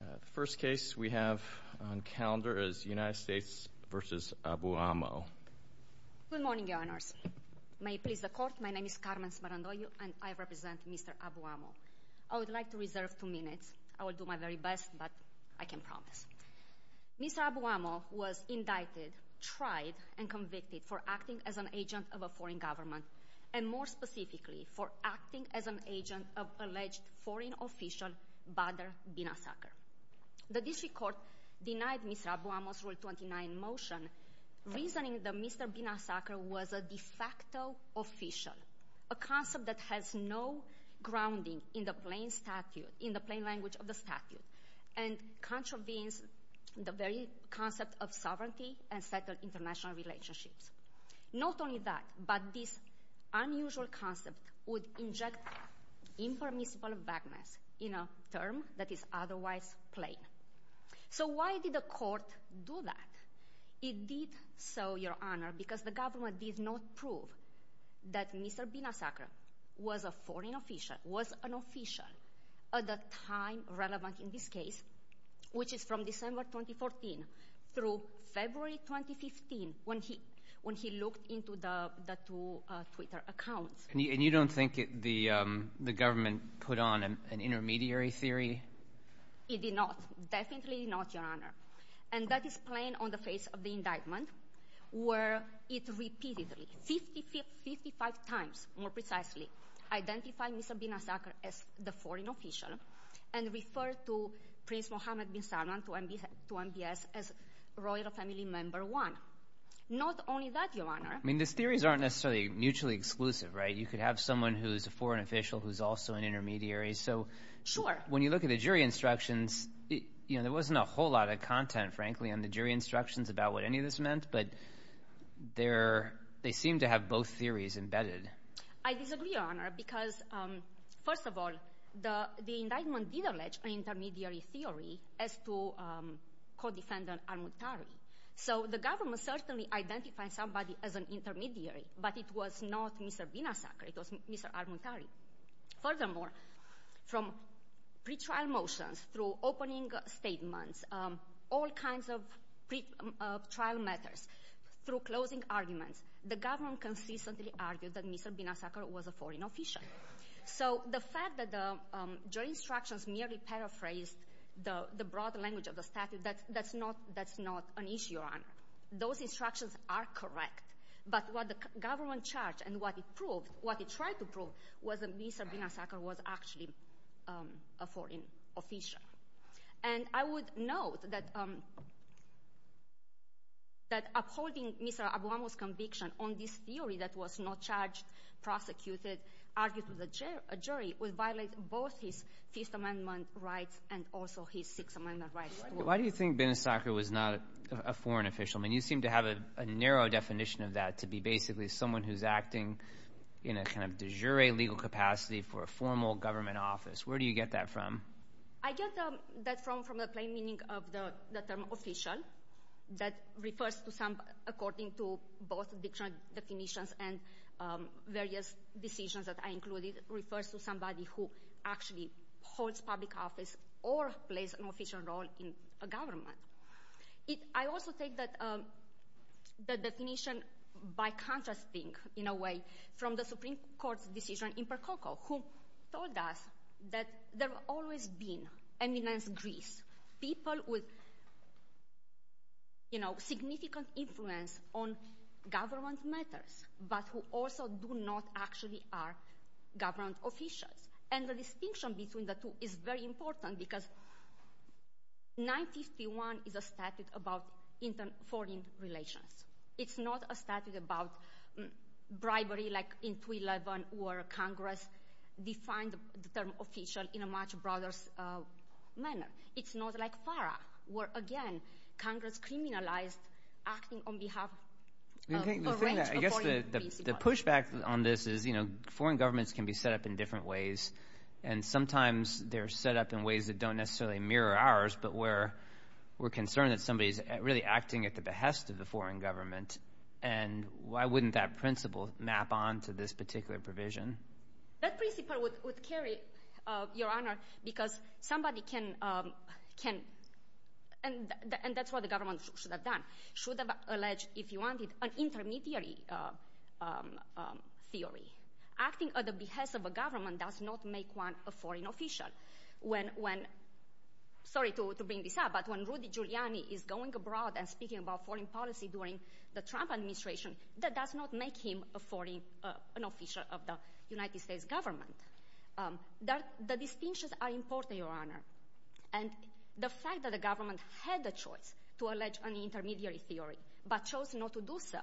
The first case we have on calendar is United States v. Abouammo. Good morning, Your Honors. May it please the Court, my name is Carmen Smarandoglio, and I represent Mr. Abouammo. I would like to reserve two minutes. I will do my very best, but I can promise. Mr. Abouammo was indicted, tried, and convicted for acting as an agent of a foreign government, and more specifically, for acting as an agent of alleged foreign official Badr Binazaker. The District Court denied Mr. Abouammo's Rule 29 motion, reasoning that Mr. Binazaker was a de facto official, a concept that has no grounding in the plain language of the statute, and contravenes the very concept of sovereignty and settled international relationships. Not only that, but this unusual concept would inject impermissible vagueness in a term that is otherwise plain. So why did the Court do that? It did so, Your Honor, because the government did not prove that Mr. Binazaker was a foreign official, was an official at the time relevant in this case, which is from December 2014 through February 2015, when he looked into the two Twitter accounts. And you don't think the government put on an intermediary theory? It did not. Definitely not, Your Honor. And that is plain on the face of the indictment, where it repeatedly, 55 times more precisely, identified Mr. Binazaker as the foreign official and referred to Prince Mohammed bin Salman, to MBS, as royal family member one. Not only that, Your Honor. I mean, these theories aren't necessarily mutually exclusive, right? You could have someone who's a foreign official who's also an intermediary. So when you look at the jury instructions, there wasn't a whole lot of content, frankly, on the jury instructions about what any of this meant, but they seem to have both theories embedded. I disagree, Your Honor, because first of all, the indictment did allege an intermediary theory as to Co-Defendant Almuntari. So the government certainly identified somebody as an intermediary, but it was not Mr. Binazaker. It was Mr. Almuntari. Furthermore, from pretrial motions through opening statements, all kinds of pretrial matters, through closing arguments, the government consistently argued that Mr. Binazaker was a foreign official. So the fact that the jury instructions merely paraphrased the broad language of the statute, that's not an issue, Your Honor. Those instructions are correct. But what the government charged and what it proved, what it tried to prove, was that Mr. Binazaker was actually a foreign official. And I would note that upholding Mr. Obama's conviction on this theory that was not charged, prosecuted, argued to the jury, would violate both his Fifth Amendment rights and also his Sixth Amendment rights. Why do you think Binazaker was not a foreign official? I mean, you seem to have a narrow definition of that to be basically someone who's acting in a kind of de jure legal capacity for a formal government office. Where do you get that from? I get that from the plain meaning of the term official that refers to some, according to both dictionary definitions and various decisions that I included, refers to somebody who actually holds public office or plays an official role in a government. I also take that definition by contrasting, in a way, from the Supreme Court's decision in Percoco, who told us that there have always been, eminence Greece, people with significant influence on government matters, but who also do not actually are government officials. And the distinction between the two is very important because 951 is a statute about foreign relations. It's not a statute about bribery like in 311 where Congress defined the term official in a much broader manner. It's not like FARA where, again, Congress criminalized acting on behalf of a range of foreign people. I guess the pushback on this is foreign governments can be set up in different ways, and sometimes they're set up in ways that don't necessarily mirror ours, but where we're concerned that somebody is really acting at the behest of the foreign government, and why wouldn't that principle map on to this particular provision? That principle would carry, Your Honor, because somebody can, and that's what the government should have done, should have alleged, if you wanted, an intermediary theory. Acting at the behest of a government does not make one a foreign official. Sorry to bring this up, but when Rudy Giuliani is going abroad and speaking about foreign policy during the Trump administration, that does not make him an official of the United States government. The distinctions are important, Your Honor, and the fact that the government had the choice to allege an intermediary theory but chose not to do so,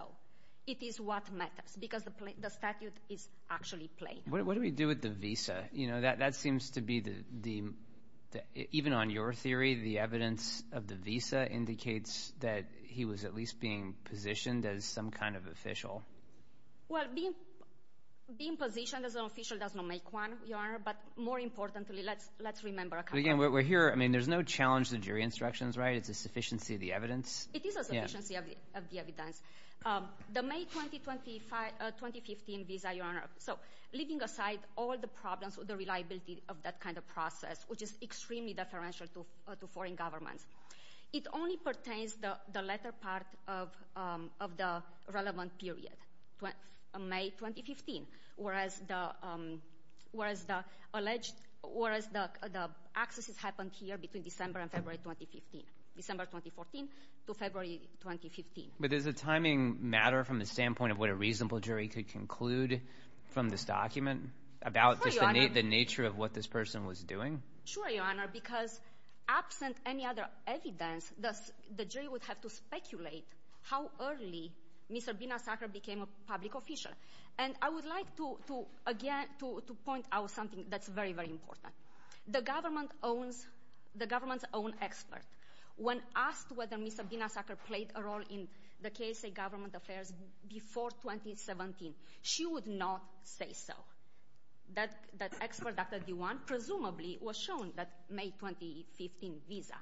it is what matters because the statute is actually plain. What do we do with the visa? That seems to be, even on your theory, the evidence of the visa indicates that he was at least being positioned as some kind of official. Well, being positioned as an official does not make one, Your Honor, but more importantly, let's remember a couple of things. But again, we're here. I mean, there's no challenge to jury instructions, right? It's a sufficiency of the evidence. It is a sufficiency of the evidence. The May 2015 visa, Your Honor, so leaving aside all the problems with the reliability of that kind of process, which is extremely deferential to foreign governments, it only pertains to the latter part of the relevant period, May 2015, whereas the accesses happened here between December and February 2015, December 2014 to February 2015. But does the timing matter from the standpoint of what a reasonable jury could conclude from this document about just the nature of what this person was doing? Sure, Your Honor, because absent any other evidence, the jury would have to speculate how early Mr. Binasakar became a public official. And I would like to, again, to point out something that's very, very important. The government owns the government's own expert. When asked whether Mr. Binasakar played a role in the KSA government affairs before 2017, she would not say so. That expert, Dr. Dewan, presumably was shown that May 2015 visa.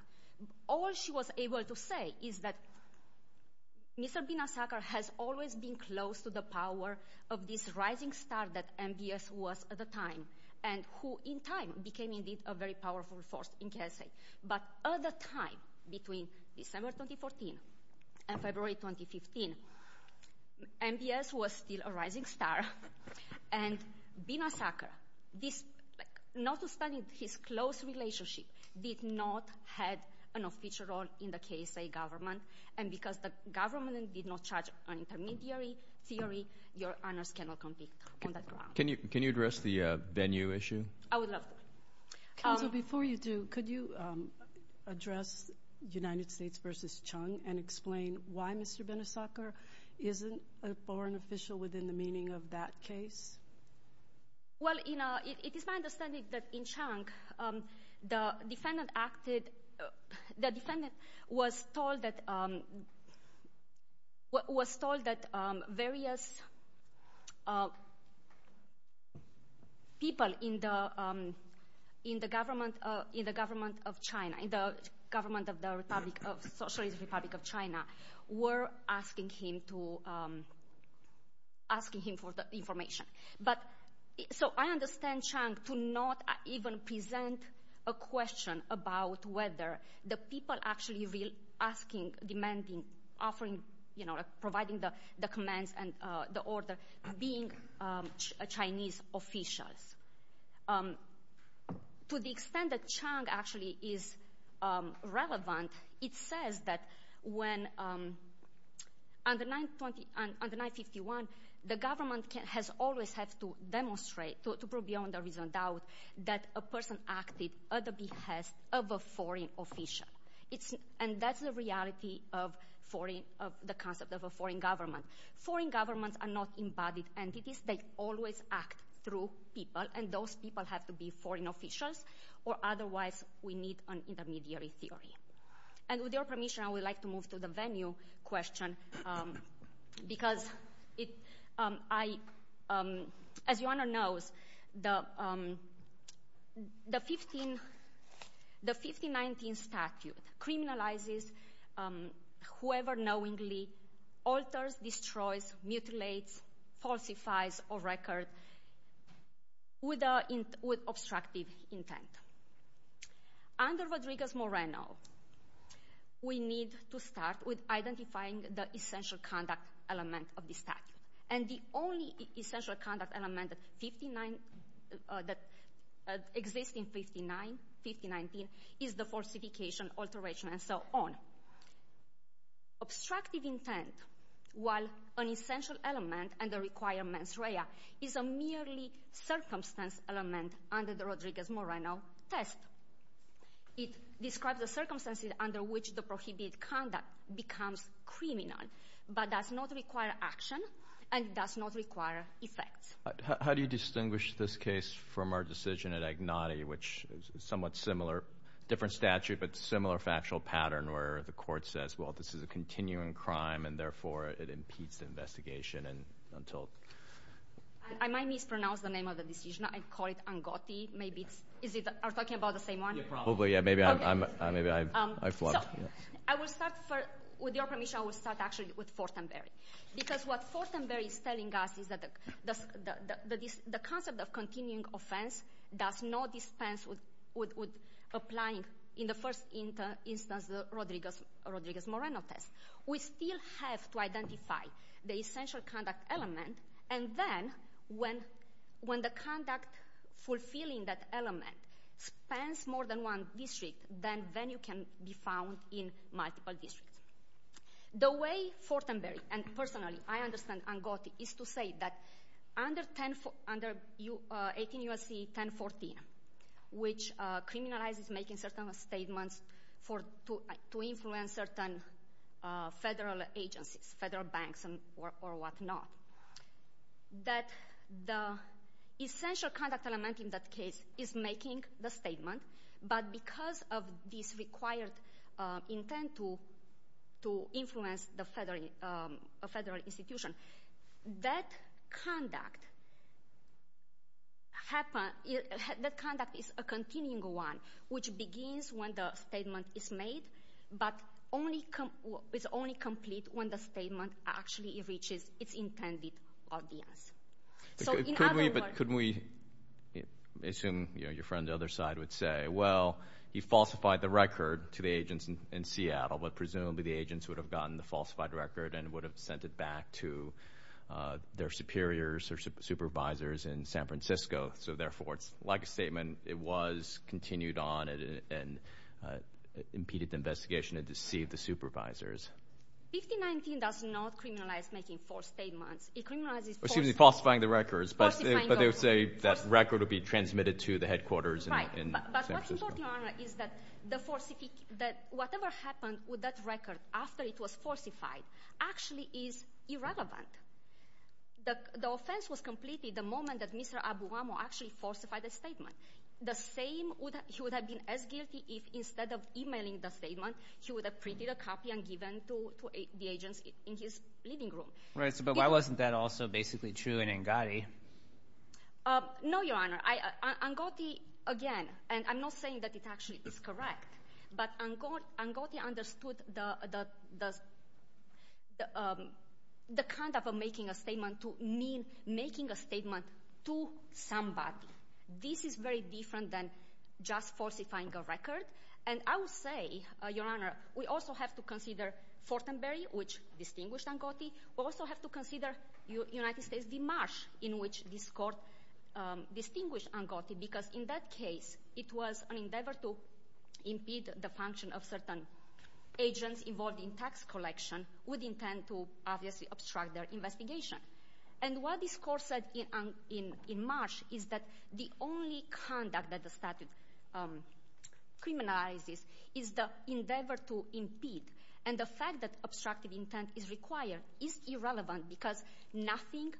All she was able to say is that Mr. Binasakar has always been close to the power of this rising star that MBS was at the time and who in time became, indeed, a very powerful force in KSA. But at the time between December 2014 and February 2015, MBS was still a rising star, and Binasakar, notwithstanding his close relationship, did not have an official role in the KSA government. And because the government did not charge an intermediary theory, Your Honors cannot compete on that ground. Can you address the venue issue? I would love to. Counsel, before you do, could you address United States v. Chung and explain why Mr. Binasakar isn't a foreign official within the meaning of that case? Well, it is my understanding that in Chung, the defendant was told that various people in the government of China, in the government of the Socialist Republic of China, were asking him for the information. So I understand Chung to not even present a question about whether the people actually asking, demanding, offering, providing the commands and the order, being Chinese officials. To the extent that Chung actually is relevant, it says that when, under 951, the government has always had to demonstrate, to prove beyond a reasonable doubt, that a person acted at the behest of a foreign official. And that's the reality of the concept of a foreign government. Foreign governments are not embodied entities. They always act through people, and those people have to be foreign officials, or otherwise we need an intermediary theory. And with your permission, I would like to move to the venue question, because, as your Honor knows, the 1519 statute criminalizes whoever knowingly alters, destroys, mutilates, falsifies a record with obstructive intent. Under Rodriguez-Moreno, we need to start with identifying the essential conduct element of the statute. And the only essential conduct element that exists in 1519 is the falsification, alteration, and so on. Obstructive intent, while an essential element under Requirements Rea, is a merely circumstance element under the Rodriguez-Moreno test. It describes the circumstances under which the prohibited conduct becomes criminal, but does not require action and does not require effects. How do you distinguish this case from our decision at Agnati, which is somewhat similar, different statute, but similar factual pattern, where the court says, well, this is a continuing crime, and therefore it impedes the investigation until— I might mispronounce the name of the decision. I call it Angotti. Maybe it's—are we talking about the same one? Hopefully, yeah. Maybe I flubbed. So, I will start for—with your permission, I will start actually with Fortenberry, because what Fortenberry is telling us is that the concept of continuing offense does not dispense with applying, in the first instance, the Rodriguez-Moreno test. We still have to identify the essential conduct element, and then when the conduct fulfilling that element spans more than one district, then venue can be found in multiple districts. The way Fortenberry, and personally, I understand Angotti, is to say that under 18 U.S.C. 1014, which criminalizes making certain statements to influence certain federal agencies, federal banks or whatnot, that the essential conduct element in that case is making the statement, but because of this required intent to influence the federal institution, that conduct is a continuing one, which begins when the statement is made, but is only complete when the statement actually reaches its intended audience. So, in other words— Could we—assume your friend on the other side would say, well, he falsified the record to the agents in Seattle, but presumably the agents would have gotten the falsified record and would have sent it back to their superiors or supervisors in San Francisco. So, therefore, it's like a statement. It was continued on and impeded the investigation and deceived the supervisors. 1519 does not criminalize making false statements. It criminalizes— Excuse me, falsifying the records. Falsifying records. But they would say that record would be transmitted to the headquarters in San Francisco. Right. But what's important, Your Honor, is that whatever happened with that record after it was falsified actually is irrelevant. The offense was completed the moment that Mr. Abuwamo actually falsified the statement. The same—he would have been as guilty if instead of emailing the statement, he would have printed a copy and given to the agents in his living room. Right. But why wasn't that also basically true in Ngoti? No, Your Honor. Ngoti, again, and I'm not saying that it actually is correct, but Ngoti understood the kind of making a statement to mean making a statement to somebody. This is very different than just falsifying a record. And I will say, Your Honor, we also have to consider Fortenberry, which distinguished Ngoti. We also have to consider United States v. Marsh in which this court distinguished Ngoti because in that case it was an endeavor to impede the function of certain agents involved in tax collection with intent to obviously obstruct their investigation. And what this court said in Marsh is that the only conduct that the statute criminalizes is the endeavor to impede. And the fact that obstructive intent is required is irrelevant because nothing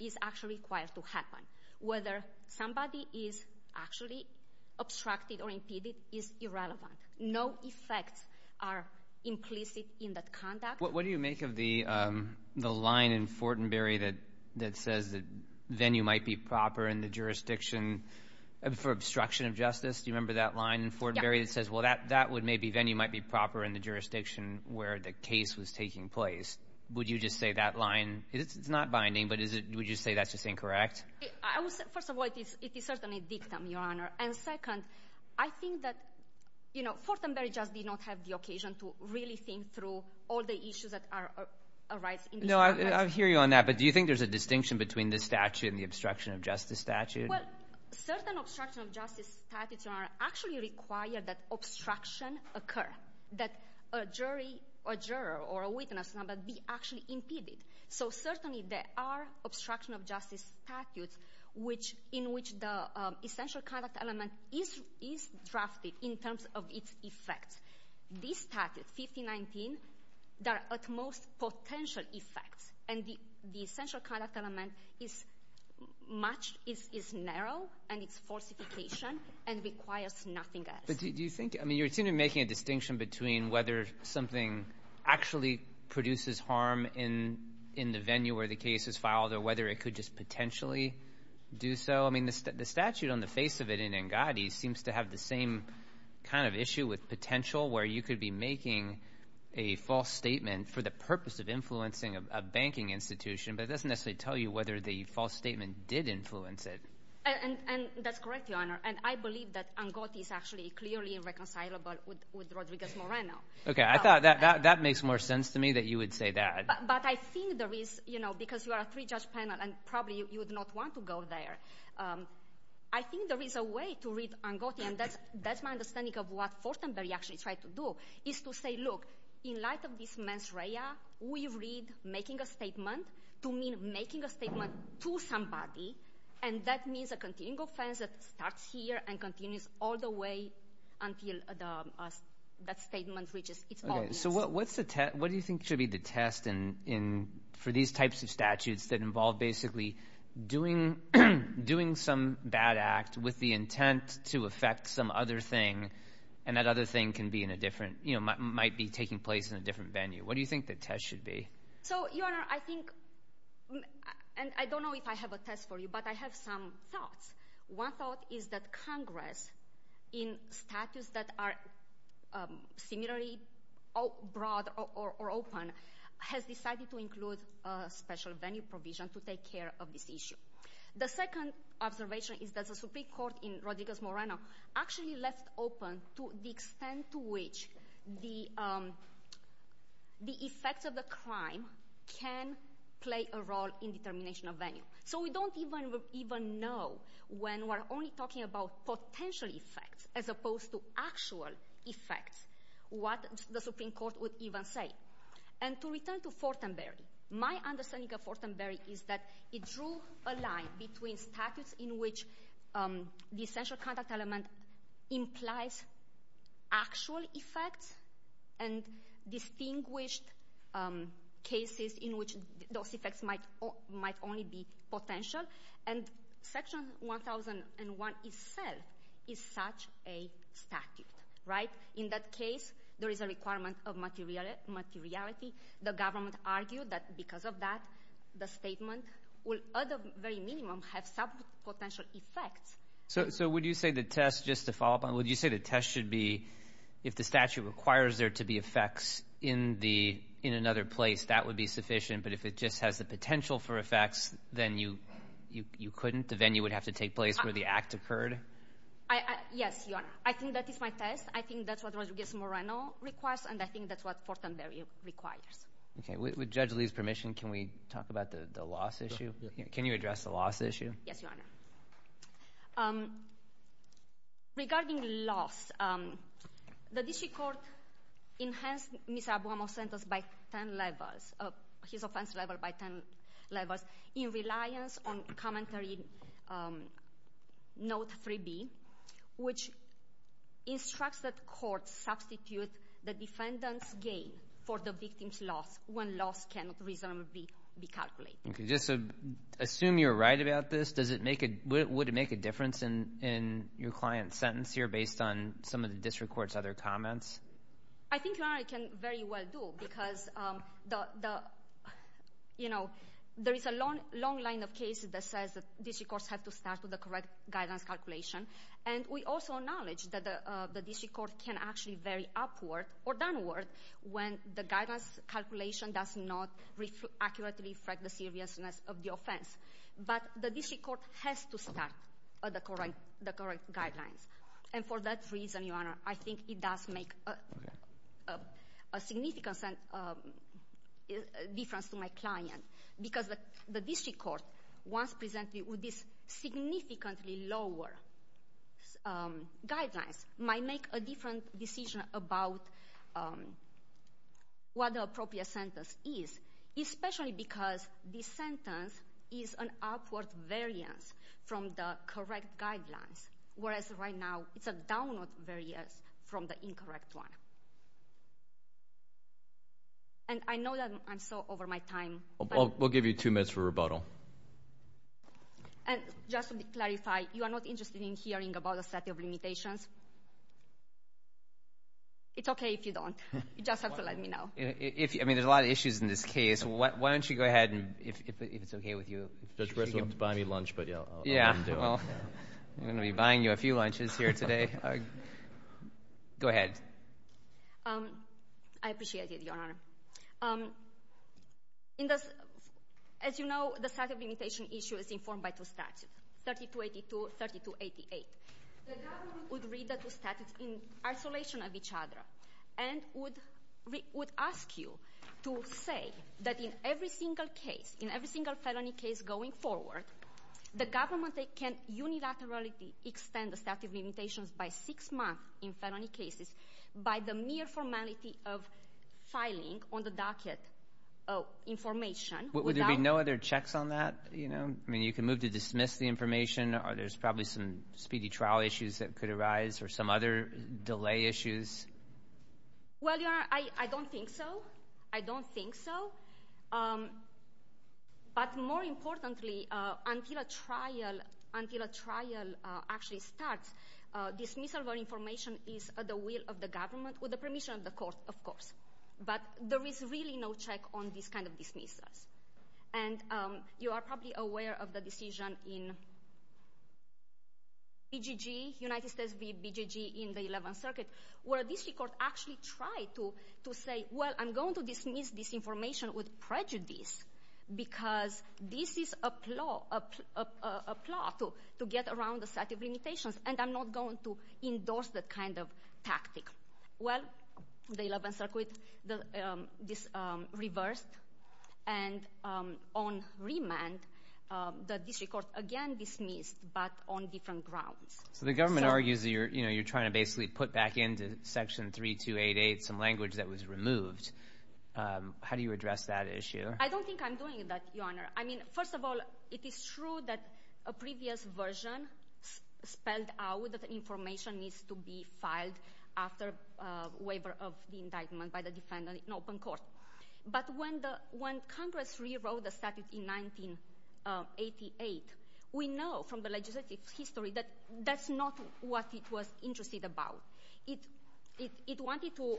is actually required to happen. Whether somebody is actually obstructed or impeded is irrelevant. No effects are implicit in that conduct. What do you make of the line in Fortenberry that says the venue might be proper in the jurisdiction for obstruction of justice? Do you remember that line in Fortenberry that says, well, that venue might be proper in the jurisdiction where the case was taking place? Would you just say that line? It's not binding, but would you say that's just incorrect? First of all, it is certainly a dictum, Your Honor. And second, I think that Fortenberry just did not have the occasion to really think through all the issues that arise in this context. I hear you on that, but do you think there's a distinction between this statute and the obstruction of justice statute? Well, certain obstruction of justice statutes, Your Honor, actually require that obstruction occur, that a jury or juror or a witness number be actually impeded. So certainly there are obstruction of justice statutes in which the essential conduct element is drafted in terms of its effects. These statutes, 1519, there are at most potential effects, and the essential conduct element is much, is narrow, and it's falsification and requires nothing else. But do you think, I mean, you seem to be making a distinction between whether something actually produces harm in the venue where the case is filed or whether it could just potentially do so. I mean, the statute on the face of it in Engadi seems to have the same kind of issue with potential where you could be making a false statement for the purpose of influencing a banking institution, but it doesn't necessarily tell you whether the false statement did influence it. And that's correct, Your Honor, and I believe that Engadi is actually clearly irreconcilable with Rodriguez-Moreno. Okay, I thought that makes more sense to me that you would say that. But I think there is, you know, because you are a three-judge panel and probably you would not want to go there. I think there is a way to read Engadi, and that's my understanding of what Fortenberry actually tried to do, is to say, look, in light of this mens rea, we read making a statement to mean making a statement to somebody, and that means a continuing offense that starts here and continues all the way until that statement reaches its audience. So what do you think should be the test for these types of statutes that involve basically doing some bad act with the intent to affect some other thing and that other thing can be in a different, you know, might be taking place in a different venue? What do you think the test should be? So, Your Honor, I think, and I don't know if I have a test for you, but I have some thoughts. One thought is that Congress, in statutes that are similarly broad or open, has decided to include a special venue provision to take care of this issue. The second observation is that the Supreme Court in Rodriguez-Morano actually left open the extent to which the effects of the crime can play a role in determination of venue. So we don't even know when we're only talking about potential effects as opposed to actual effects, what the Supreme Court would even say. And to return to Fortenberry, my understanding of Fortenberry is that it drew a line between statutes in which the essential contact element implies actual effects and distinguished cases in which those effects might only be potential. And Section 1001 itself is such a statute, right? In that case, there is a requirement of materiality. The government argued that because of that, the statement will at the very minimum have some potential effects. So would you say the test, just to follow up on it, would you say the test should be if the statute requires there to be effects in another place, that would be sufficient, but if it just has the potential for effects, then you couldn't? The venue would have to take place where the act occurred? Yes, Your Honor. I think that is my test. I think that's what Rodriguez-Moreno requires, and I think that's what Fortenberry requires. Okay. With Judge Lee's permission, can we talk about the loss issue? Can you address the loss issue? Yes, Your Honor. Regarding loss, the district court enhanced Mr. Abuamo's sentence by 10 levels, his offense level by 10 levels, in reliance on commentary note 3B, which instructs that courts substitute the defendant's gain for the victim's loss when loss cannot reasonably be calculated. Just assume you're right about this. Would it make a difference in your client's sentence here based on some of the district court's other comments? I think, Your Honor, it can very well do because, you know, there is a long line of cases that says that district courts have to start with the correct guidance calculation, and we also acknowledge that the district court can actually vary upward or downward when the guidance calculation does not accurately reflect the seriousness of the offense. But the district court has to start the correct guidelines, and for that reason, Your Honor, I think it does make a significant difference to my client because the district court, once presented with these significantly lower guidelines, might make a different decision about what the appropriate sentence is, especially because this sentence is an upward variance from the correct guidelines, whereas right now it's a downward variance from the incorrect one. And I know that I'm so over my time. We'll give you two minutes for rebuttal. And just to clarify, you are not interested in hearing about a set of limitations? It's okay if you don't. You just have to let me know. I mean, there's a lot of issues in this case. Why don't you go ahead, and if it's okay with you. Judge Breslin will have to buy me lunch, but I'll let him do it. Well, I'm going to be buying you a few lunches here today. Go ahead. I appreciate it, Your Honor. As you know, the statute of limitation issue is informed by two statutes, 3282 and 3288. The government would read the two statutes in isolation of each other and would ask you to say that in every single case, in every single felony case going forward, the government can unilaterally extend the statute of limitations by six months in felony cases by the mere formality of filing on the docket information. Would there be no other checks on that? I mean, you can move to dismiss the information. There's probably some speedy trial issues that could arise or some other delay issues. Well, Your Honor, I don't think so. I don't think so. But more importantly, until a trial actually starts, dismissal of information is at the will of the government with the permission of the court, of course. But there is really no check on this kind of dismissals. And you are probably aware of the decision in BGG, United States v. BGG in the 11th Circuit, where this court actually tried to say, well, I'm going to dismiss this information with prejudice because this is a plot to get around the statute of limitations, and I'm not going to endorse that kind of tactic. Well, the 11th Circuit reversed and on remand that this court again dismissed, but on different grounds. So the government argues that you're trying to basically put back into Section 3288 some language that was removed. How do you address that issue? I don't think I'm doing that, Your Honor. I mean, first of all, it is true that a previous version spelled out that information needs to be filed after waiver of the indictment by the defendant in open court. But when Congress rewrote the statute in 1988, we know from the legislative history that that's not what it was interested about. It wanted to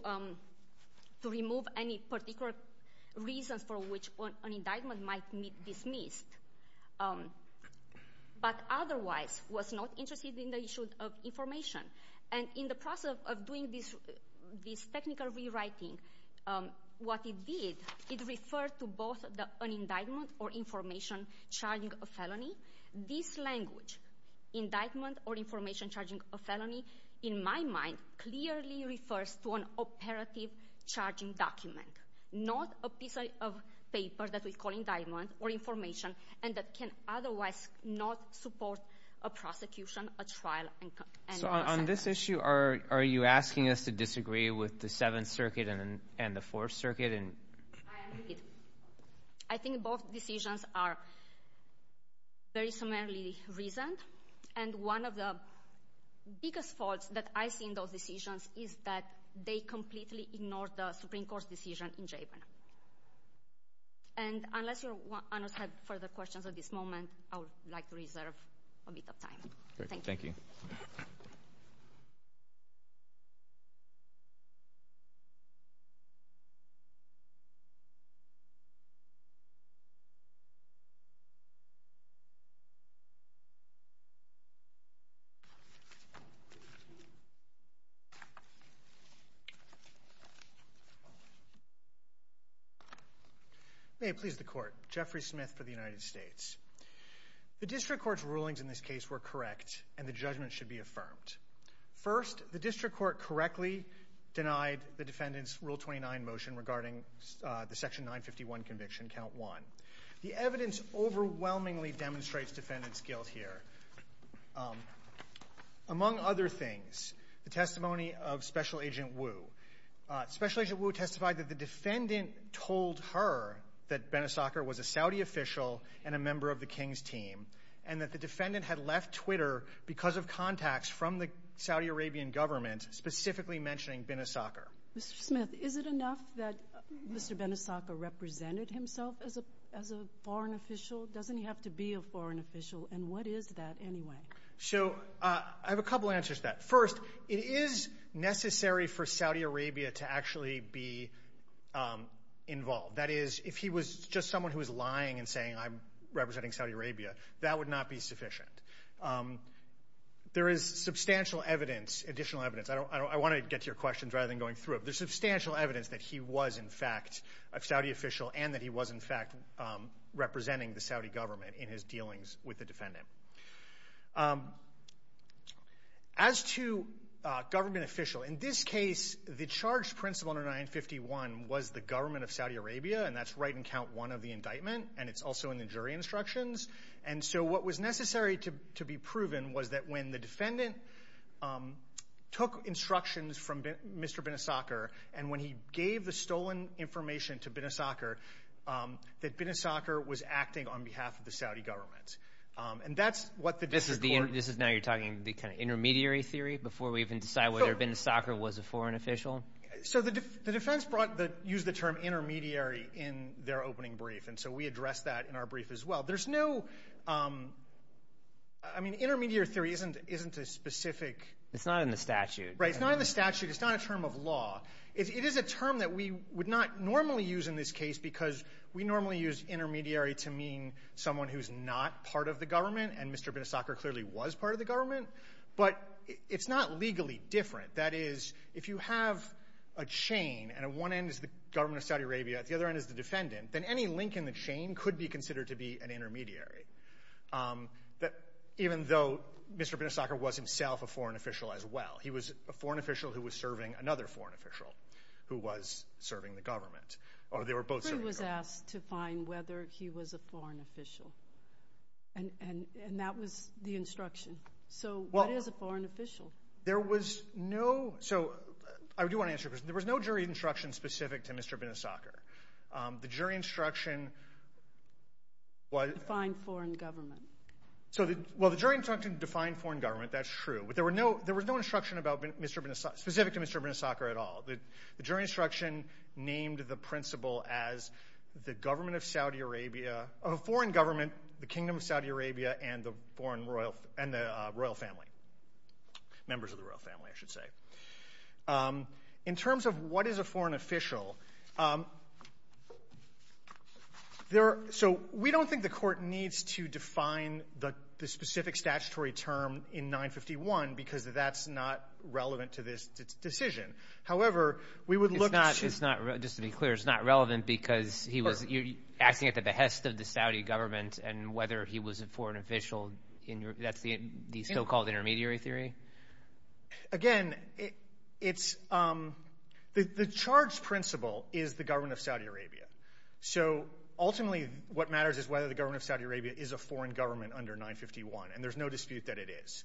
remove any particular reasons for which an indictment might be dismissed, but otherwise was not interested in the issue of information. And in the process of doing this technical rewriting, what it did, it referred to both an indictment or information charging a felony. This language, indictment or information charging a felony, in my mind, clearly refers to an operative charging document, not a piece of paper that we call indictment or information and that can otherwise not support a prosecution, a trial. So on this issue, are you asking us to disagree with the Seventh Circuit and the Fourth Circuit? I think both decisions are very similarly reasoned. And one of the biggest faults that I see in those decisions is that they completely ignore the Supreme Court's decision in Japan. And unless your honors have further questions at this moment, I would like to reserve a bit of time. Thank you. May it please the Court. Jeffrey Smith for the United States. The district court's rulings in this case were correct, and the judgment should be affirmed. First, the district court correctly denied the defendant's Rule 29 motion regarding the Section 951 conviction, Count 1. The evidence overwhelmingly demonstrates defendant's guilt here. Among other things, the testimony of Special Agent Wu. Special Agent Wu testified that the defendant told her that Benisacker was a Saudi official and a member of the King's team and that the defendant had left Twitter because of contacts from the Saudi Arabian government specifically mentioning Benisacker. Mr. Smith, is it enough that Mr. Benisacker represented himself as a foreign official? Doesn't he have to be a foreign official? And what is that anyway? So I have a couple answers to that. First, it is necessary for Saudi Arabia to actually be involved. That is, if he was just someone who was lying and saying, I'm representing Saudi Arabia, that would not be sufficient. There is substantial evidence, additional evidence. I want to get to your questions rather than going through them. There's substantial evidence that he was, in fact, a Saudi official and that he was, in fact, representing the Saudi government in his dealings with the defendant. As to government official, in this case, the charged principal under 951 was the government of Saudi Arabia, and that's right in count one of the indictment, and it's also in the jury instructions. And so what was necessary to be proven was that when the defendant took instructions from Mr. Benisacker and when he gave the stolen information to Benisacker, that Benisacker was acting on behalf of the Saudi government. And that's what the district court— This is now you're talking the kind of intermediary theory before we even decide whether Benisacker was a foreign official? So the defense used the term intermediary in their opening brief, and so we addressed that in our brief as well. There's no—I mean, intermediary theory isn't a specific— It's not in the statute. Right, it's not in the statute. It's not a term of law. It is a term that we would not normally use in this case because we normally use intermediary to mean someone who's not part of the government, and Mr. Benisacker clearly was part of the government. But it's not legally different. That is, if you have a chain, and at one end is the government of Saudi Arabia, at the other end is the defendant, then any link in the chain could be considered to be an intermediary, even though Mr. Benisacker was himself a foreign official as well. He was a foreign official who was serving another foreign official who was serving the government, or they were both serving the government. He was asked to find whether he was a foreign official, and that was the instruction. So what is a foreign official? There was no—so I do want to answer your question. There was no jury instruction specific to Mr. Benisacker. The jury instruction was— Defined foreign government. Well, the jury instruction defined foreign government. That's true. But there was no instruction specific to Mr. Benisacker at all. The jury instruction named the principal as the government of Saudi Arabia— a foreign government, the kingdom of Saudi Arabia, and the royal family— members of the royal family, I should say. In terms of what is a foreign official, so we don't think the court needs to define the specific statutory term in 951 because that's not relevant to this decision. However, we would look to— Just to be clear, it's not relevant because he was acting at the behest of the Saudi government and whether he was a foreign official, that's the so-called intermediary theory? Again, it's—the charge principle is the government of Saudi Arabia. So ultimately what matters is whether the government of Saudi Arabia is a foreign government under 951, and there's no dispute that it is.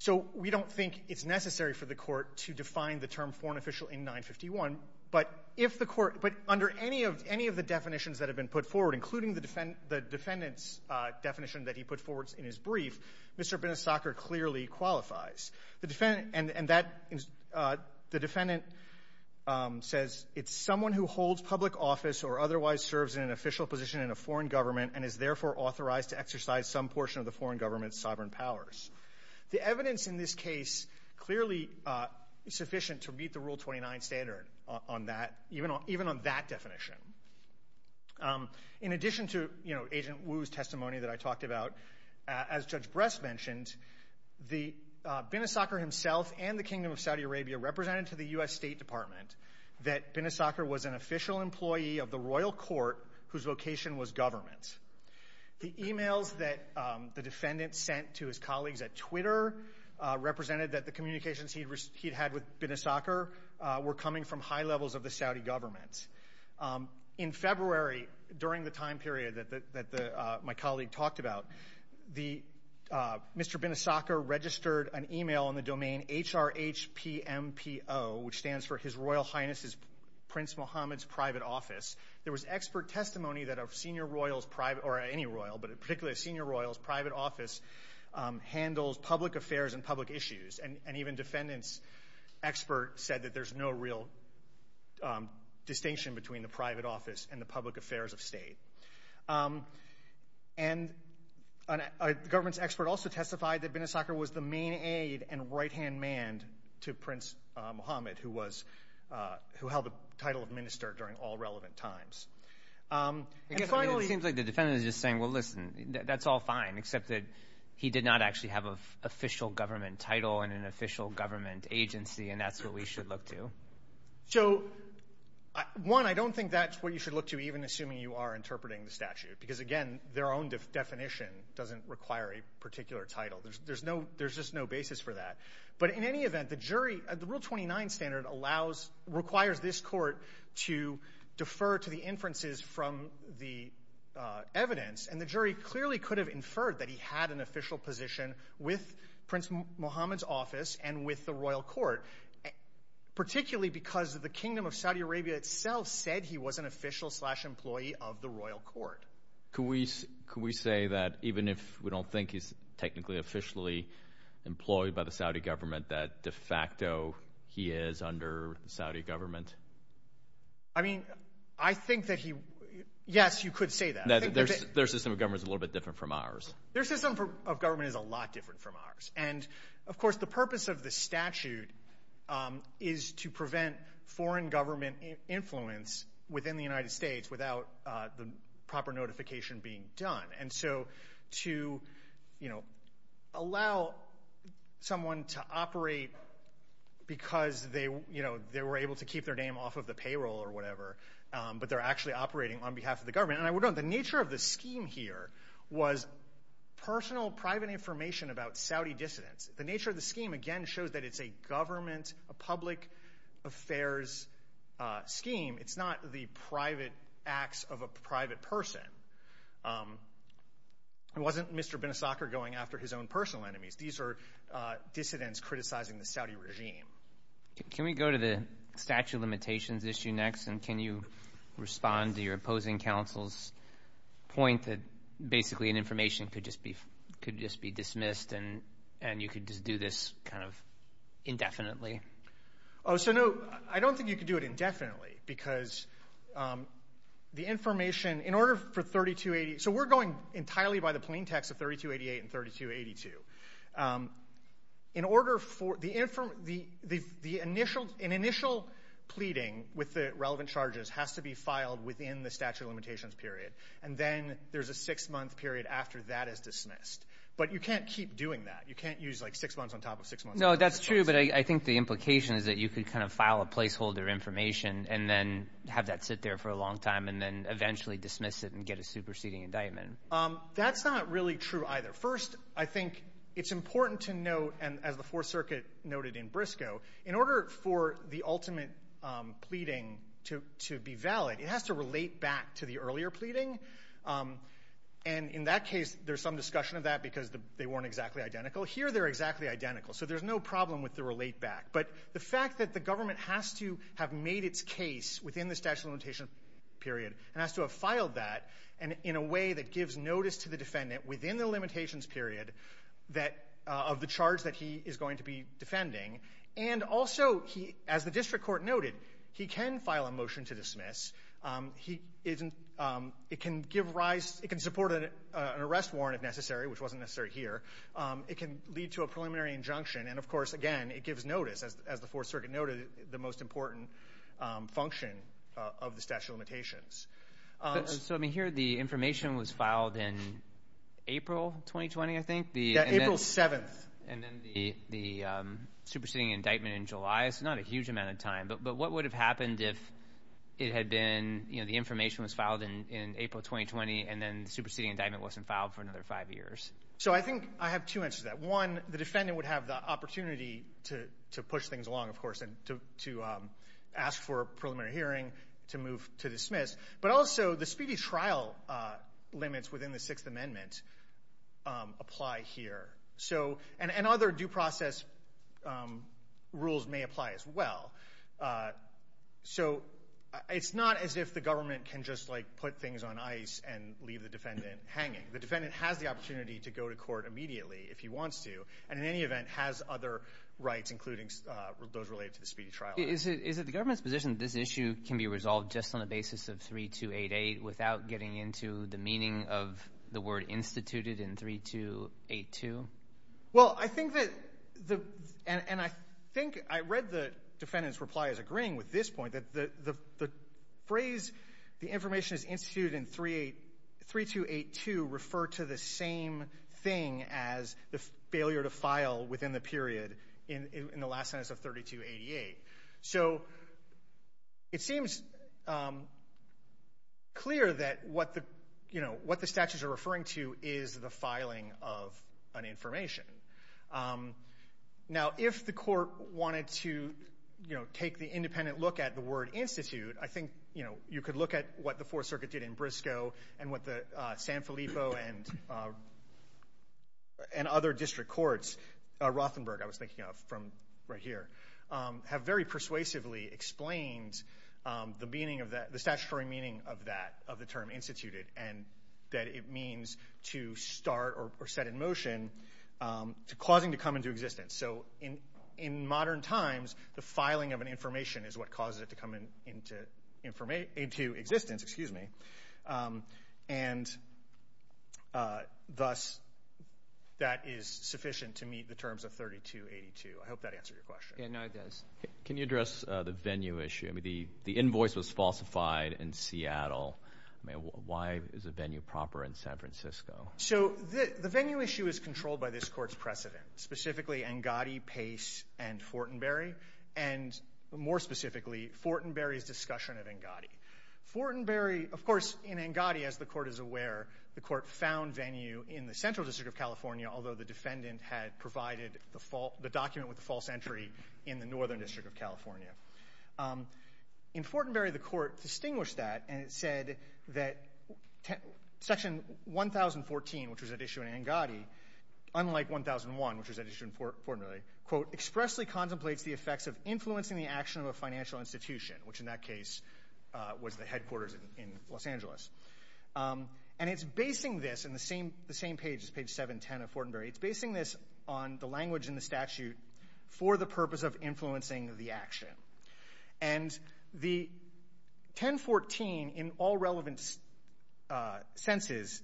So we don't think it's necessary for the court to define the term foreign official in 951, but if the court—but under any of the definitions that have been put forward, including the defendant's definition that he put forward in his brief, Mr. Benistocker clearly qualifies. The defendant says it's someone who holds public office or otherwise serves in an official position in a foreign government and is therefore authorized to exercise some portion of the foreign government's sovereign powers. The evidence in this case clearly is sufficient to meet the Rule 29 standard on that, even on that definition. In addition to Agent Wu's testimony that I talked about, as Judge Bress mentioned, Benistocker himself and the Kingdom of Saudi Arabia represented to the U.S. State Department that Benistocker was an official employee of the royal court whose vocation was government. The emails that the defendant sent to his colleagues at Twitter represented that the communications he'd had with Benistocker were coming from high levels of the Saudi government. In February, during the time period that my colleague talked about, Mr. Benistocker registered an email in the domain HRHPMPO, which stands for His Royal Highness's Prince Mohammed's Private Office. There was expert testimony that a senior royal's private—or any royal, but particularly a senior royal's private office handles public affairs and public issues. And even defendants' experts said that there's no real distinction between the private office and the public affairs of state. And a government's expert also testified that Benistocker was the main aide and right-hand man to Prince Mohammed, who held the title of minister during all relevant times. It seems like the defendant is just saying, well, listen, that's all fine, except that he did not actually have an official government title and an official government agency, and that's what we should look to. So, one, I don't think that's what you should look to, even assuming you are interpreting the statute, because, again, their own definition doesn't require a particular title. There's just no basis for that. But in any event, the jury—the Rule 29 standard allows— requires this court to defer to the inferences from the evidence, and the jury clearly could have inferred that he had an official position with Prince Mohammed's office and with the royal court, particularly because the Kingdom of Saudi Arabia itself said he was an official-slash-employee of the royal court. Could we say that, even if we don't think he's technically officially employed by the Saudi government, that de facto he is under the Saudi government? I mean, I think that he—yes, you could say that. Their system of government is a little bit different from ours. Their system of government is a lot different from ours. And, of course, the purpose of the statute is to prevent foreign government influence within the United States without the proper notification being done. And so to allow someone to operate because they were able to keep their name off of the payroll or whatever, but they're actually operating on behalf of the government— the nature of the scheme here was personal, private information about Saudi dissidents. The nature of the scheme, again, shows that it's a government, a public affairs scheme. It's not the private acts of a private person. It wasn't Mr. Binisakar going after his own personal enemies. These are dissidents criticizing the Saudi regime. Can we go to the statute of limitations issue next, and can you respond to your opposing counsel's point that basically information could just be dismissed and you could just do this kind of indefinitely? Oh, so no, I don't think you could do it indefinitely because the information—in order for 3280— so we're going entirely by the plain text of 3288 and 3282. In order for—an initial pleading with the relevant charges has to be filed within the statute of limitations period, and then there's a six-month period after that is dismissed. But you can't keep doing that. You can't use like six months on top of six months. No, that's true, but I think the implication is that you could kind of file a placeholder information and then have that sit there for a long time and then eventually dismiss it and get a superseding indictment. That's not really true either. First, I think it's important to note, and as the Fourth Circuit noted in Briscoe, in order for the ultimate pleading to be valid, it has to relate back to the earlier pleading. And in that case, there's some discussion of that because they weren't exactly identical. Here they're exactly identical, so there's no problem with the relate back. But the fact that the government has to have made its case within the statute of limitations period and has to have filed that in a way that gives notice to the defendant within the limitations period of the charge that he is going to be defending, and also, as the district court noted, he can file a motion to dismiss. It can support an arrest warrant if necessary, which wasn't necessary here. It can lead to a preliminary injunction, and, of course, again, it gives notice, as the Fourth Circuit noted, the most important function of the statute of limitations. So, I mean, here the information was filed in April 2020, I think? Yeah, April 7th. And then the superseding indictment in July, so not a huge amount of time. But what would have happened if it had been, you know, the information was filed in April 2020 and then the superseding indictment wasn't filed for another five years? So I think I have two answers to that. One, the defendant would have the opportunity to push things along, of course, and to ask for a preliminary hearing to move to dismiss, but also the speedy trial limits within the Sixth Amendment apply here. And other due process rules may apply as well. So it's not as if the government can just, like, put things on ice and leave the defendant hanging. The defendant has the opportunity to go to court immediately if he wants to, and in any event has other rights, including those related to the speedy trial. Is it the government's position that this issue can be resolved just on the basis of 3288 without getting into the meaning of the word instituted in 3282? Well, I think that the – and I think I read the defendant's reply as agreeing with this point, that the phrase the information is instituted in 3282 referred to the same thing as the failure to file within the period in the last sentence of 3288. So it seems clear that what the statutes are referring to is the filing of an information. Now, if the court wanted to, you know, take the independent look at the word institute, I think, you know, you could look at what the Fourth Circuit did in Briscoe and what the San Filippo and other district courts, Rothenberg I was thinking of from right here, have very persuasively explained the meaning of that, the statutory meaning of that, of the term instituted and that it means to start or set in motion causing to come into existence. So in modern times, the filing of an information is what causes it to come into existence. And thus, that is sufficient to meet the terms of 3282. I hope that answered your question. Yeah, no, it does. Can you address the venue issue? I mean, the invoice was falsified in Seattle. I mean, why is a venue proper in San Francisco? So the venue issue is controlled by this court's precedent, specifically, Angotti, Pace, and Fortenberry, and more specifically, Fortenberry's discussion of Angotti. Fortenberry, of course, in Angotti, as the court is aware, the court found venue in the Central District of California, in Fortenberry, the court distinguished that and it said that Section 1014, which was at issue in Angotti, unlike 1001, which was at issue in Fortenberry, quote, expressly contemplates the effects of influencing the action of a financial institution, which in that case was the headquarters in Los Angeles. And it's basing this in the same page, page 710 of Fortenberry, it's basing this on the language in the statute for the purpose of influencing the action. And the 1014, in all relevant senses,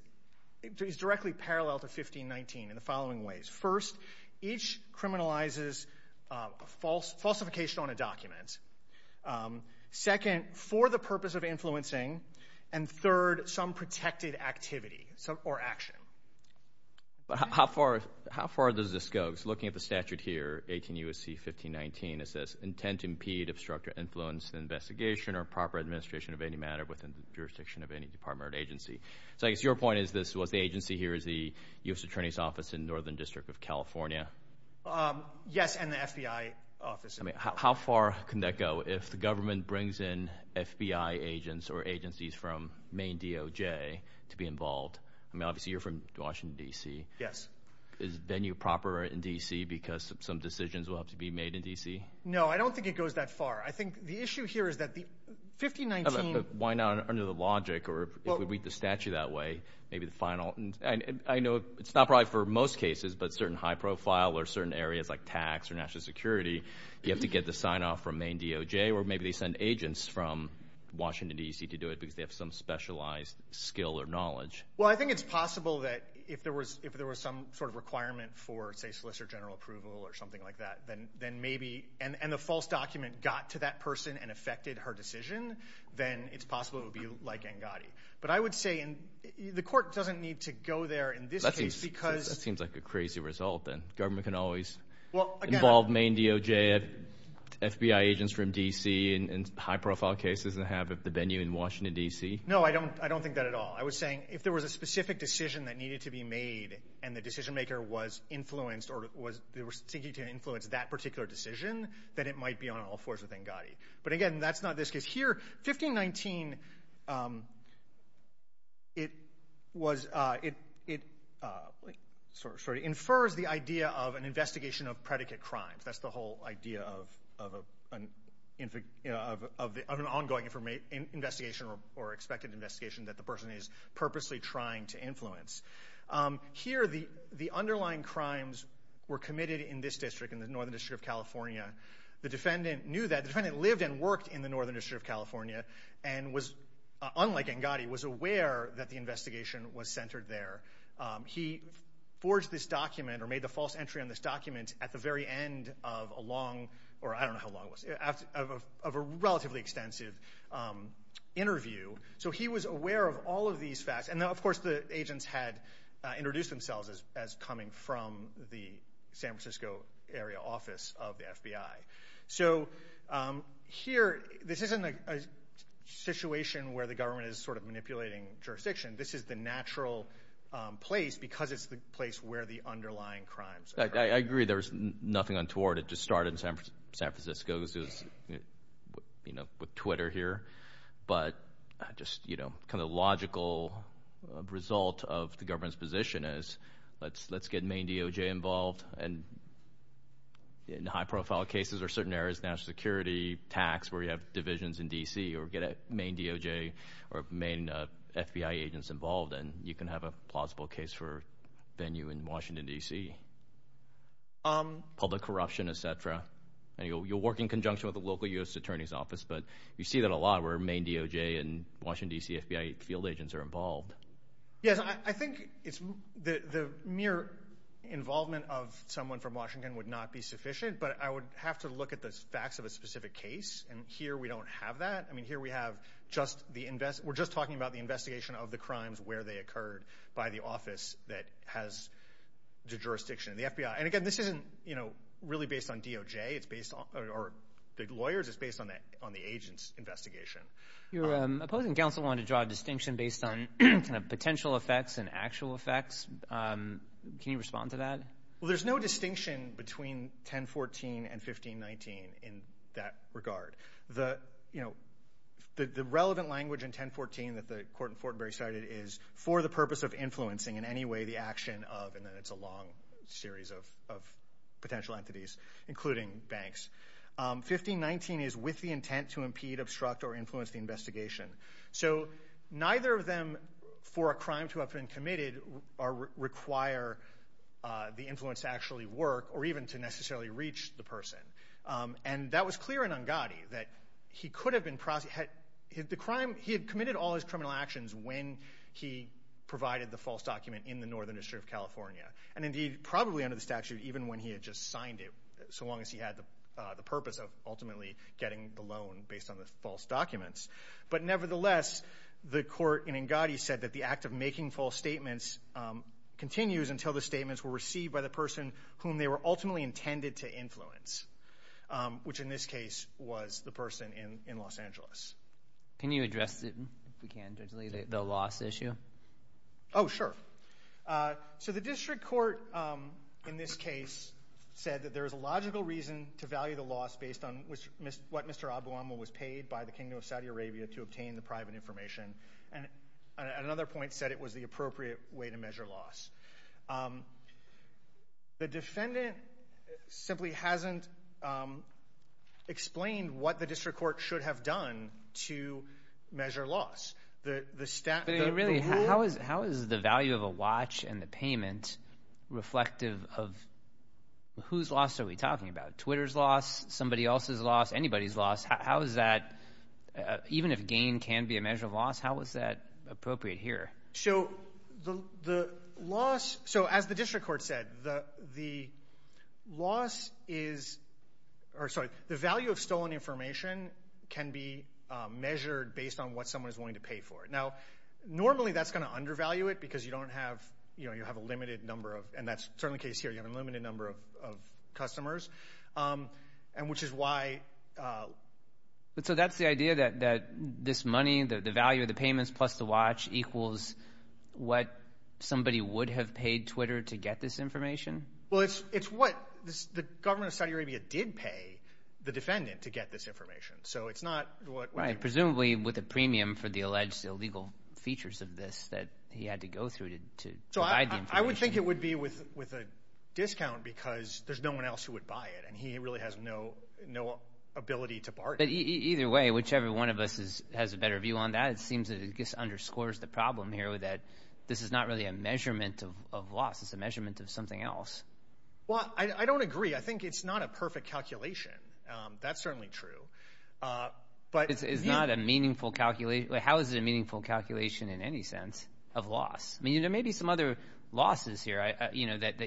is directly parallel to 1519 in the following ways. First, each criminalizes falsification on a document. Second, for the purpose of influencing. And third, some protected activity or action. But how far does this go? So looking at the statute here, 18 U.S.C. 1519, it says intent to impede, obstruct, or influence the investigation or proper administration of any matter within the jurisdiction of any department or agency. So I guess your point is this was the agency here is the U.S. Attorney's Office in Northern District of California? Yes, and the FBI office. How far can that go if the government brings in FBI agents or agencies from Maine DOJ to be involved? I mean, obviously you're from Washington, D.C. Yes. Is venue proper in D.C. because some decisions will have to be made in D.C.? No, I don't think it goes that far. I think the issue here is that the 1519. Why not under the logic, or if we read the statute that way, maybe the final. I know it's not probably for most cases, but certain high profile or certain areas like tax or national security, you have to get the sign-off from Maine DOJ, or maybe they send agents from Washington, D.C. to do it because they have some specialized skill or knowledge. Well, I think it's possible that if there was some sort of requirement for, say, solicitor general approval or something like that, and the false document got to that person and affected her decision, then it's possible it would be like Ngati. But I would say the court doesn't need to go there in this case because— That seems like a crazy result then. Government can always involve Maine DOJ FBI agents from D.C. in high profile cases and have the venue in Washington, D.C. No, I don't think that at all. I was saying if there was a specific decision that needed to be made, and the decision-maker was thinking to influence that particular decision, then it might be on all fours with Ngati. But again, that's not this case. Here, 1519, it infers the idea of an investigation of predicate crimes. That's the whole idea of an ongoing investigation or expected investigation that the person is purposely trying to influence. Here, the underlying crimes were committed in this district, in the Northern District of California. The defendant knew that. The defendant lived and worked in the Northern District of California and was, unlike Ngati, was aware that the investigation was centered there. He forged this document or made the false entry on this document at the very end of a long—or I don't know how long it was—of a relatively extensive interview. So he was aware of all of these facts. And, of course, the agents had introduced themselves as coming from the San Francisco area office of the FBI. So here, this isn't a situation where the government is sort of manipulating jurisdiction. This is the natural place because it's the place where the underlying crimes occur. I agree. There's nothing untoward. It just started in San Francisco. This is, you know, with Twitter here. But just, you know, kind of logical result of the government's position is let's get Maine DOJ involved. And in high-profile cases or certain areas, national security, tax, where you have divisions in D.C. or get a Maine DOJ or Maine FBI agents involved, and you can have a plausible case for venue in Washington, D.C., public corruption, etc. And you'll work in conjunction with the local U.S. Attorney's Office. But you see that a lot where Maine DOJ and Washington, D.C. FBI field agents are involved. Yes, I think it's the mere involvement of someone from Washington would not be sufficient, but I would have to look at the facts of a specific case, and here we don't have that. I mean, here we have just the invest—we're just talking about the investigation of the crimes, where they occurred by the office that has the jurisdiction of the FBI. And, again, this isn't, you know, really based on DOJ. It's based on—or the lawyers. It's based on the agents' investigation. Your opposing counsel wanted to draw a distinction based on potential effects and actual effects. Can you respond to that? Well, there's no distinction between 1014 and 1519 in that regard. The relevant language in 1014 that the court in Fortenberry cited is for the purpose of influencing in any way the action of, and then it's a long series of potential entities, including banks. 1519 is with the intent to impede, obstruct, or influence the investigation. So neither of them, for a crime to have been committed, require the influence to actually work or even to necessarily reach the person. And that was clear in Ungadi, that he could have been—the crime—he had committed all his criminal actions when he provided the false document in the Northern District of California, and, indeed, probably under the statute even when he had just signed it, so long as he had the purpose of ultimately getting the loan based on the false documents. But, nevertheless, the court in Ungadi said that the act of making false statements continues until the statements were received by the person whom they were ultimately intended to influence, which, in this case, was the person in Los Angeles. Can you address, if we can, the loss issue? Oh, sure. So the district court, in this case, said that there is a logical reason to value the loss based on what Mr. Abu-Amr was paid by the Kingdom of Saudi Arabia to obtain the private information, and at another point said it was the appropriate way to measure loss. The defendant simply hasn't explained what the district court should have done to measure loss. Really, how is the value of a watch and the payment reflective of whose loss are we talking about? Twitter's loss? Somebody else's loss? Anybody's loss? How is that—even if gain can be a measure of loss, how is that appropriate here? So the loss—so as the district court said, the loss is—or, sorry, the value of stolen information can be measured based on what someone is willing to pay for it. Now, normally that's going to undervalue it because you don't have—you have a limited number of— and that's certainly the case here. You have a limited number of customers, which is why— So that's the idea, that this money, the value of the payments plus the watch, equals what somebody would have paid Twitter to get this information? Well, it's what—the government of Saudi Arabia did pay the defendant to get this information. So it's not what— Right, presumably with a premium for the alleged illegal features of this that he had to go through to provide the information. So I would think it would be with a discount because there's no one else who would buy it, and he really has no ability to bargain. But either way, whichever one of us has a better view on that, it seems that it just underscores the problem here that this is not really a measurement of loss. It's a measurement of something else. Well, I don't agree. I think it's not a perfect calculation. That's certainly true. But— It's not a meaningful calculation. How is it a meaningful calculation in any sense of loss? I mean, there may be some other losses here that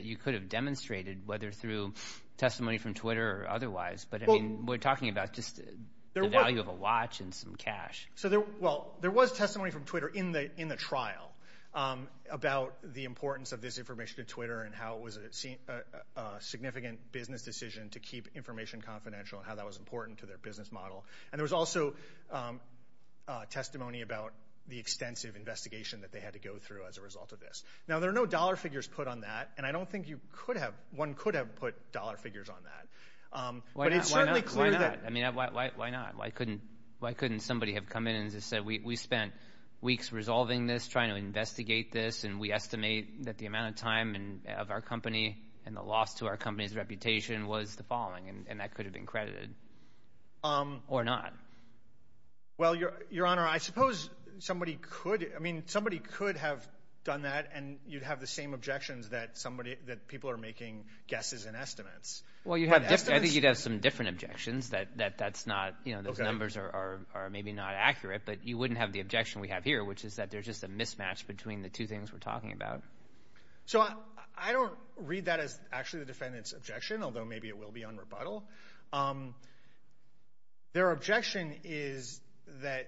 you could have demonstrated, whether through testimony from Twitter or otherwise. But, I mean, we're talking about just the value of a watch and some cash. Well, there was testimony from Twitter in the trial about the importance of this information to Twitter and how it was a significant business decision to keep information confidential and how that was important to their business model. And there was also testimony about the extensive investigation that they had to go through as a result of this. Now, there are no dollar figures put on that, and I don't think you could have—one could have put dollar figures on that. Why not? Why not? I mean, why not? Why couldn't somebody have come in and just said, we spent weeks resolving this, trying to investigate this, and we estimate that the amount of time of our company and the loss to our company's reputation was the following, and that could have been credited or not. Well, Your Honor, I suppose somebody could. I mean, somebody could have done that, and you'd have the same objections that people are making guesses and estimates. Well, you have— Estimates? I think you'd have some different objections that that's not—you know, those numbers are maybe not accurate, but you wouldn't have the objection we have here, which is that there's just a mismatch between the two things we're talking about. So I don't read that as actually the defendant's objection, although maybe it will be on rebuttal. Their objection is that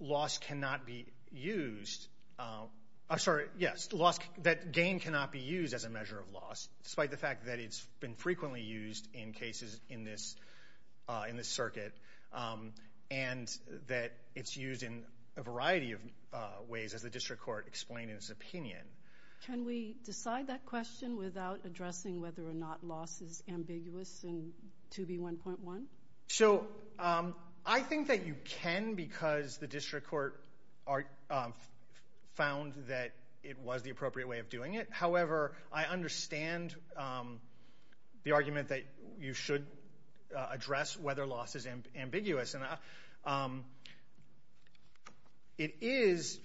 loss cannot be used—I'm sorry, yes, loss—that gain cannot be used as a measure of loss, despite the fact that it's been frequently used in cases in this circuit and that it's used in a variety of ways, as the district court explained in its opinion. Can we decide that question without addressing whether or not loss is ambiguous in 2B1.1? So I think that you can because the district court found that it was the appropriate way of doing it. However, I understand the argument that you should address whether loss is ambiguous. It is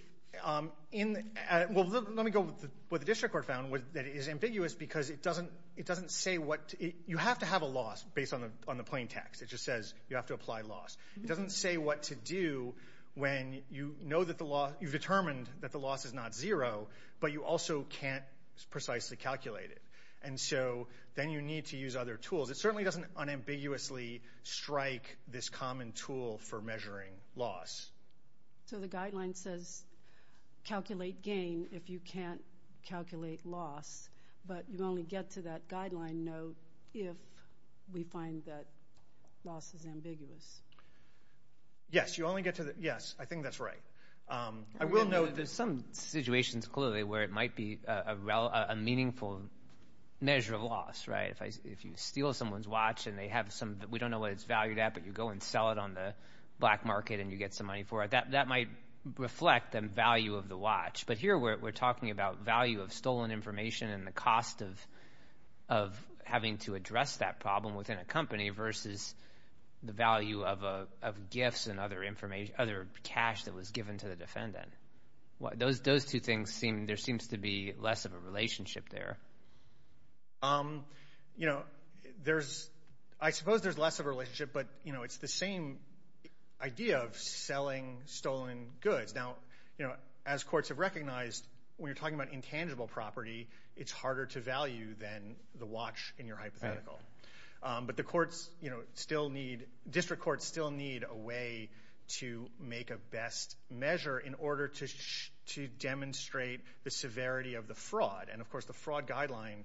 in—well, let me go with what the district court found, that it is ambiguous because it doesn't say what—you have to have a loss based on the plain text. It just says you have to apply loss. It doesn't say what to do when you know that the loss—you've determined that the loss is not zero, but you also can't precisely calculate it. And so then you need to use other tools. It certainly doesn't unambiguously strike this common tool for measuring loss. So the guideline says calculate gain if you can't calculate loss, but you only get to that guideline note if we find that loss is ambiguous. Yes, you only get to the—yes, I think that's right. I will note there's some situations clearly where it might be a meaningful measure of loss, right? If you steal someone's watch and they have some—we don't know what it's valued at, but you go and sell it on the black market and you get some money for it, that might reflect the value of the watch. But here we're talking about value of stolen information and the cost of having to address that problem within a company versus the value of gifts and other cash that was given to the defendant. Those two things seem—there seems to be less of a relationship there. You know, there's—I suppose there's less of a relationship, but, you know, it's the same idea of selling stolen goods. Now, you know, as courts have recognized, when you're talking about intangible property, it's harder to value than the watch in your hypothetical. But the courts still need—district courts still need a way to make a best measure in order to demonstrate the severity of the fraud. And, of course, the fraud guideline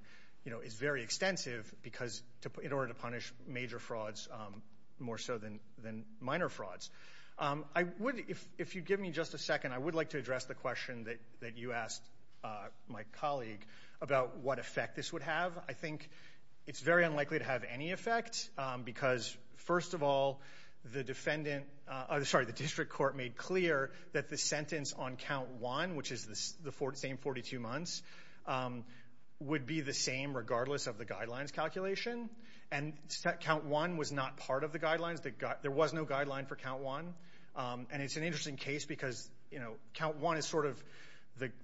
is very extensive because— in order to punish major frauds more so than minor frauds. I would—if you'd give me just a second, I would like to address the question that you asked my colleague about what effect this would have. I think it's very unlikely to have any effect because, first of all, the defendant— I'm sorry, the district court made clear that the sentence on count one, which is the same 42 months, would be the same regardless of the guidelines calculation. And count one was not part of the guidelines. There was no guideline for count one. And it's an interesting case because, you know,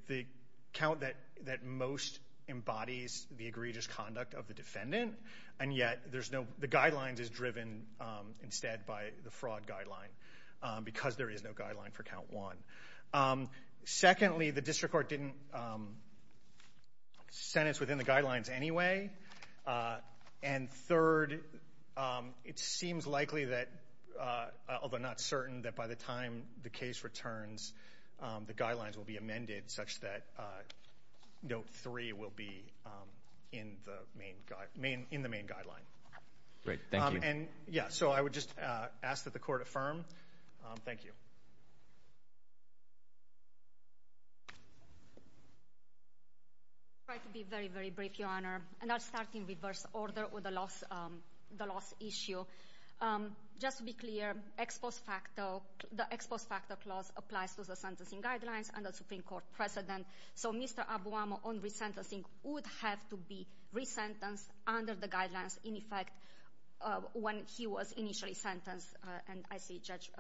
the count that most embodies the egregious conduct of the defendant, and yet there's no—the guidelines is driven instead by the fraud guideline because there is no guideline for count one. Secondly, the district court didn't sentence within the guidelines anyway. And third, it seems likely that—although not certain—that by the time the case returns, the guidelines will be amended such that note three will be in the main guideline. Great. Thank you. Yeah, so I would just ask that the court affirm. Thank you. I'll try to be very, very brief, Your Honor. And I'll start in reverse order with the loss issue. Just to be clear, the ex post facto clause applies to the sentencing guidelines and the Supreme Court precedent. So Mr. Abuamo on resentencing would have to be resentenced under the guidelines, in effect, when he was initially sentenced. And I see Judge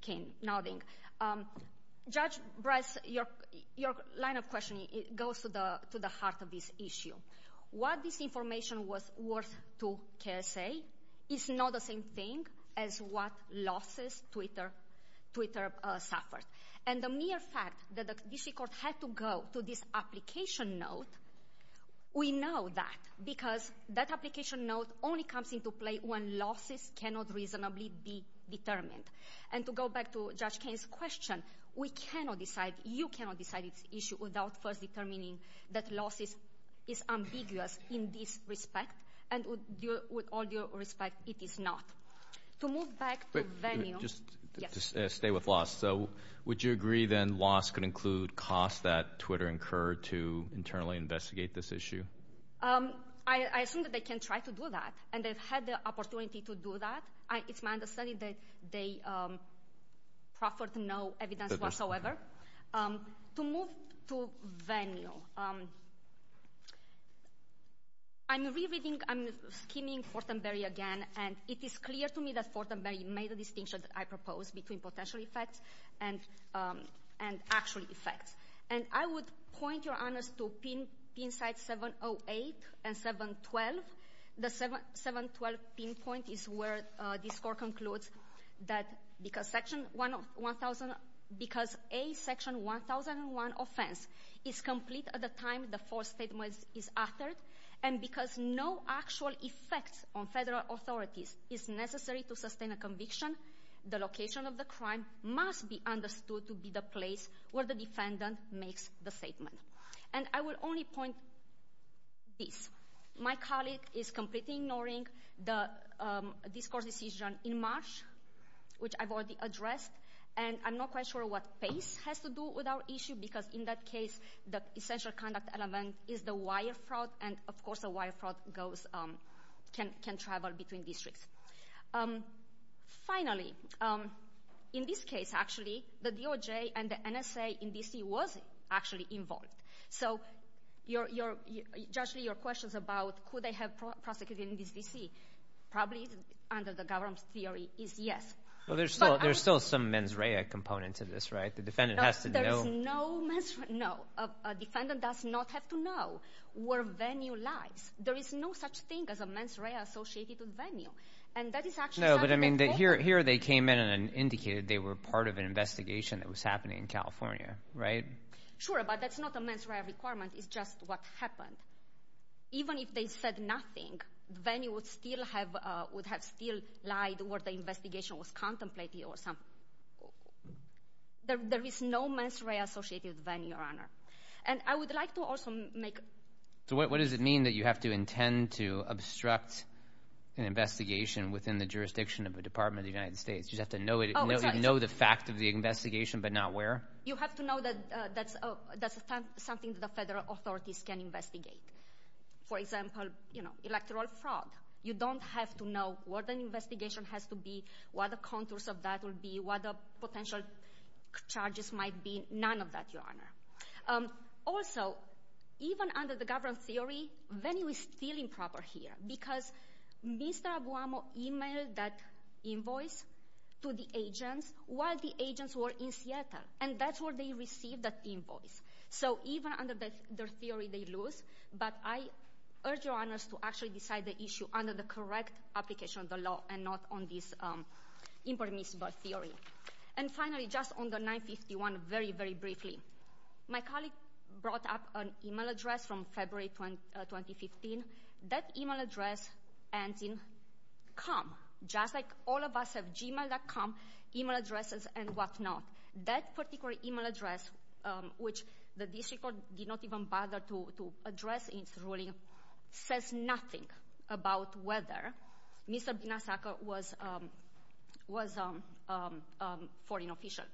Kane nodding. Judge Bryce, your line of questioning goes to the heart of this issue. What this information was worth to KSA is not the same thing as what losses Twitter suffered. And the mere fact that the district court had to go to this application note, we know that because that application note only comes into play when losses cannot reasonably be determined. And to go back to Judge Kane's question, we cannot decide, you cannot decide this issue without first determining that losses is ambiguous in this respect. And with all due respect, it is not. To move back to venue. Just to stay with loss. So would you agree then loss could include costs that Twitter incurred to internally investigate this issue? I assume that they can try to do that. And they've had the opportunity to do that. It's my understanding that they proffered no evidence whatsoever. To move to venue. I'm re-reading, I'm skimming Fortenberry again, and it is clear to me that Fortenberry made a distinction that I proposed between potential effects and actual effects. And I would point, Your Honors, to pin sites 708 and 712. The 712 pinpoint is where this court concludes that because Section 1001, because a Section 1001 offense is complete at the time the false statement is authored, and because no actual effect on federal authorities is necessary to sustain a conviction, the location of the crime must be understood to be the place where the defendant makes the statement. And I would only point this. My colleague is completely ignoring the discourse decision in March, which I've already addressed. And I'm not quite sure what PACE has to do with our issue, because in that case the essential conduct element is the wire fraud, and, of course, the wire fraud can travel between districts. Finally, in this case, actually, the DOJ and the NSA in D.C. was actually involved. So, Judge Lee, your questions about could they have prosecuted in D.C. probably, under the government's theory, is yes. Well, there's still some mens rea component to this, right? The defendant has to know. No, a defendant does not have to know where venue lies. There is no such thing as a mens rea associated with venue. No, but, I mean, here they came in and indicated they were part of an investigation that was happening in California, right? Sure, but that's not a mens rea requirement. It's just what happened. Even if they said nothing, venue would have still lied what the investigation was contemplating or something. There is no mens rea associated with venue, Your Honor. And I would like to also make— So what does it mean that you have to intend to obstruct an investigation within the jurisdiction of the Department of the United States? You'd have to know the fact of the investigation, but not where? You'd have to know that that's something the federal authorities can investigate. For example, you know, electoral fraud. You don't have to know what an investigation has to be, what the contours of that will be, what the potential charges might be. None of that, Your Honor. Also, even under the government's theory, venue is still improper here because Mr. Aguamo emailed that invoice to the agents while the agents were in Seattle, and that's where they received that invoice. So even under their theory, they lose. But I urge Your Honors to actually decide the issue under the correct application of the law and not on this impermissible theory. And finally, just on the 951, very, very briefly, my colleague brought up an email address from February 2015. That email address ends in com, just like all of us have gmail.com email addresses and whatnot. That particular email address, which the district court did not even bother to address in its ruling, says nothing about whether Mr. Binazaca was a foreign official.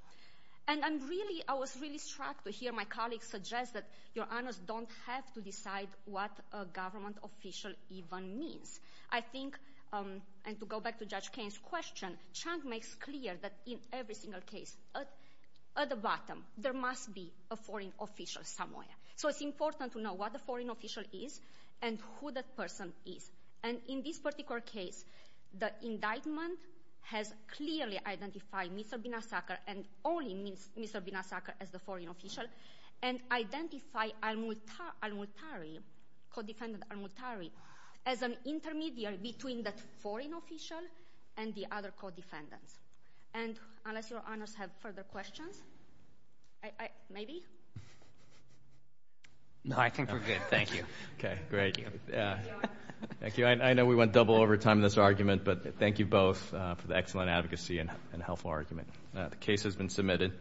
And I'm really, I was really struck to hear my colleague suggest that, Your Honors, don't have to decide what a government official even means. I think, and to go back to Judge Kane's question, Chang makes clear that in every single case, at the bottom, there must be a foreign official somewhere. So it's important to know what the foreign official is and who that person is. And in this particular case, the indictment has clearly identified Mr. Binazaca and only Mr. Binazaca as the foreign official and identified al-Muhtari, co-defendant al-Muhtari, as an intermediary between that foreign official and the other co-defendants. And unless Your Honors have further questions, maybe? No, I think we're good. Thank you. Okay, great. I know we went double over time in this argument, but thank you both for the excellent advocacy and helpful argument. The case has been submitted.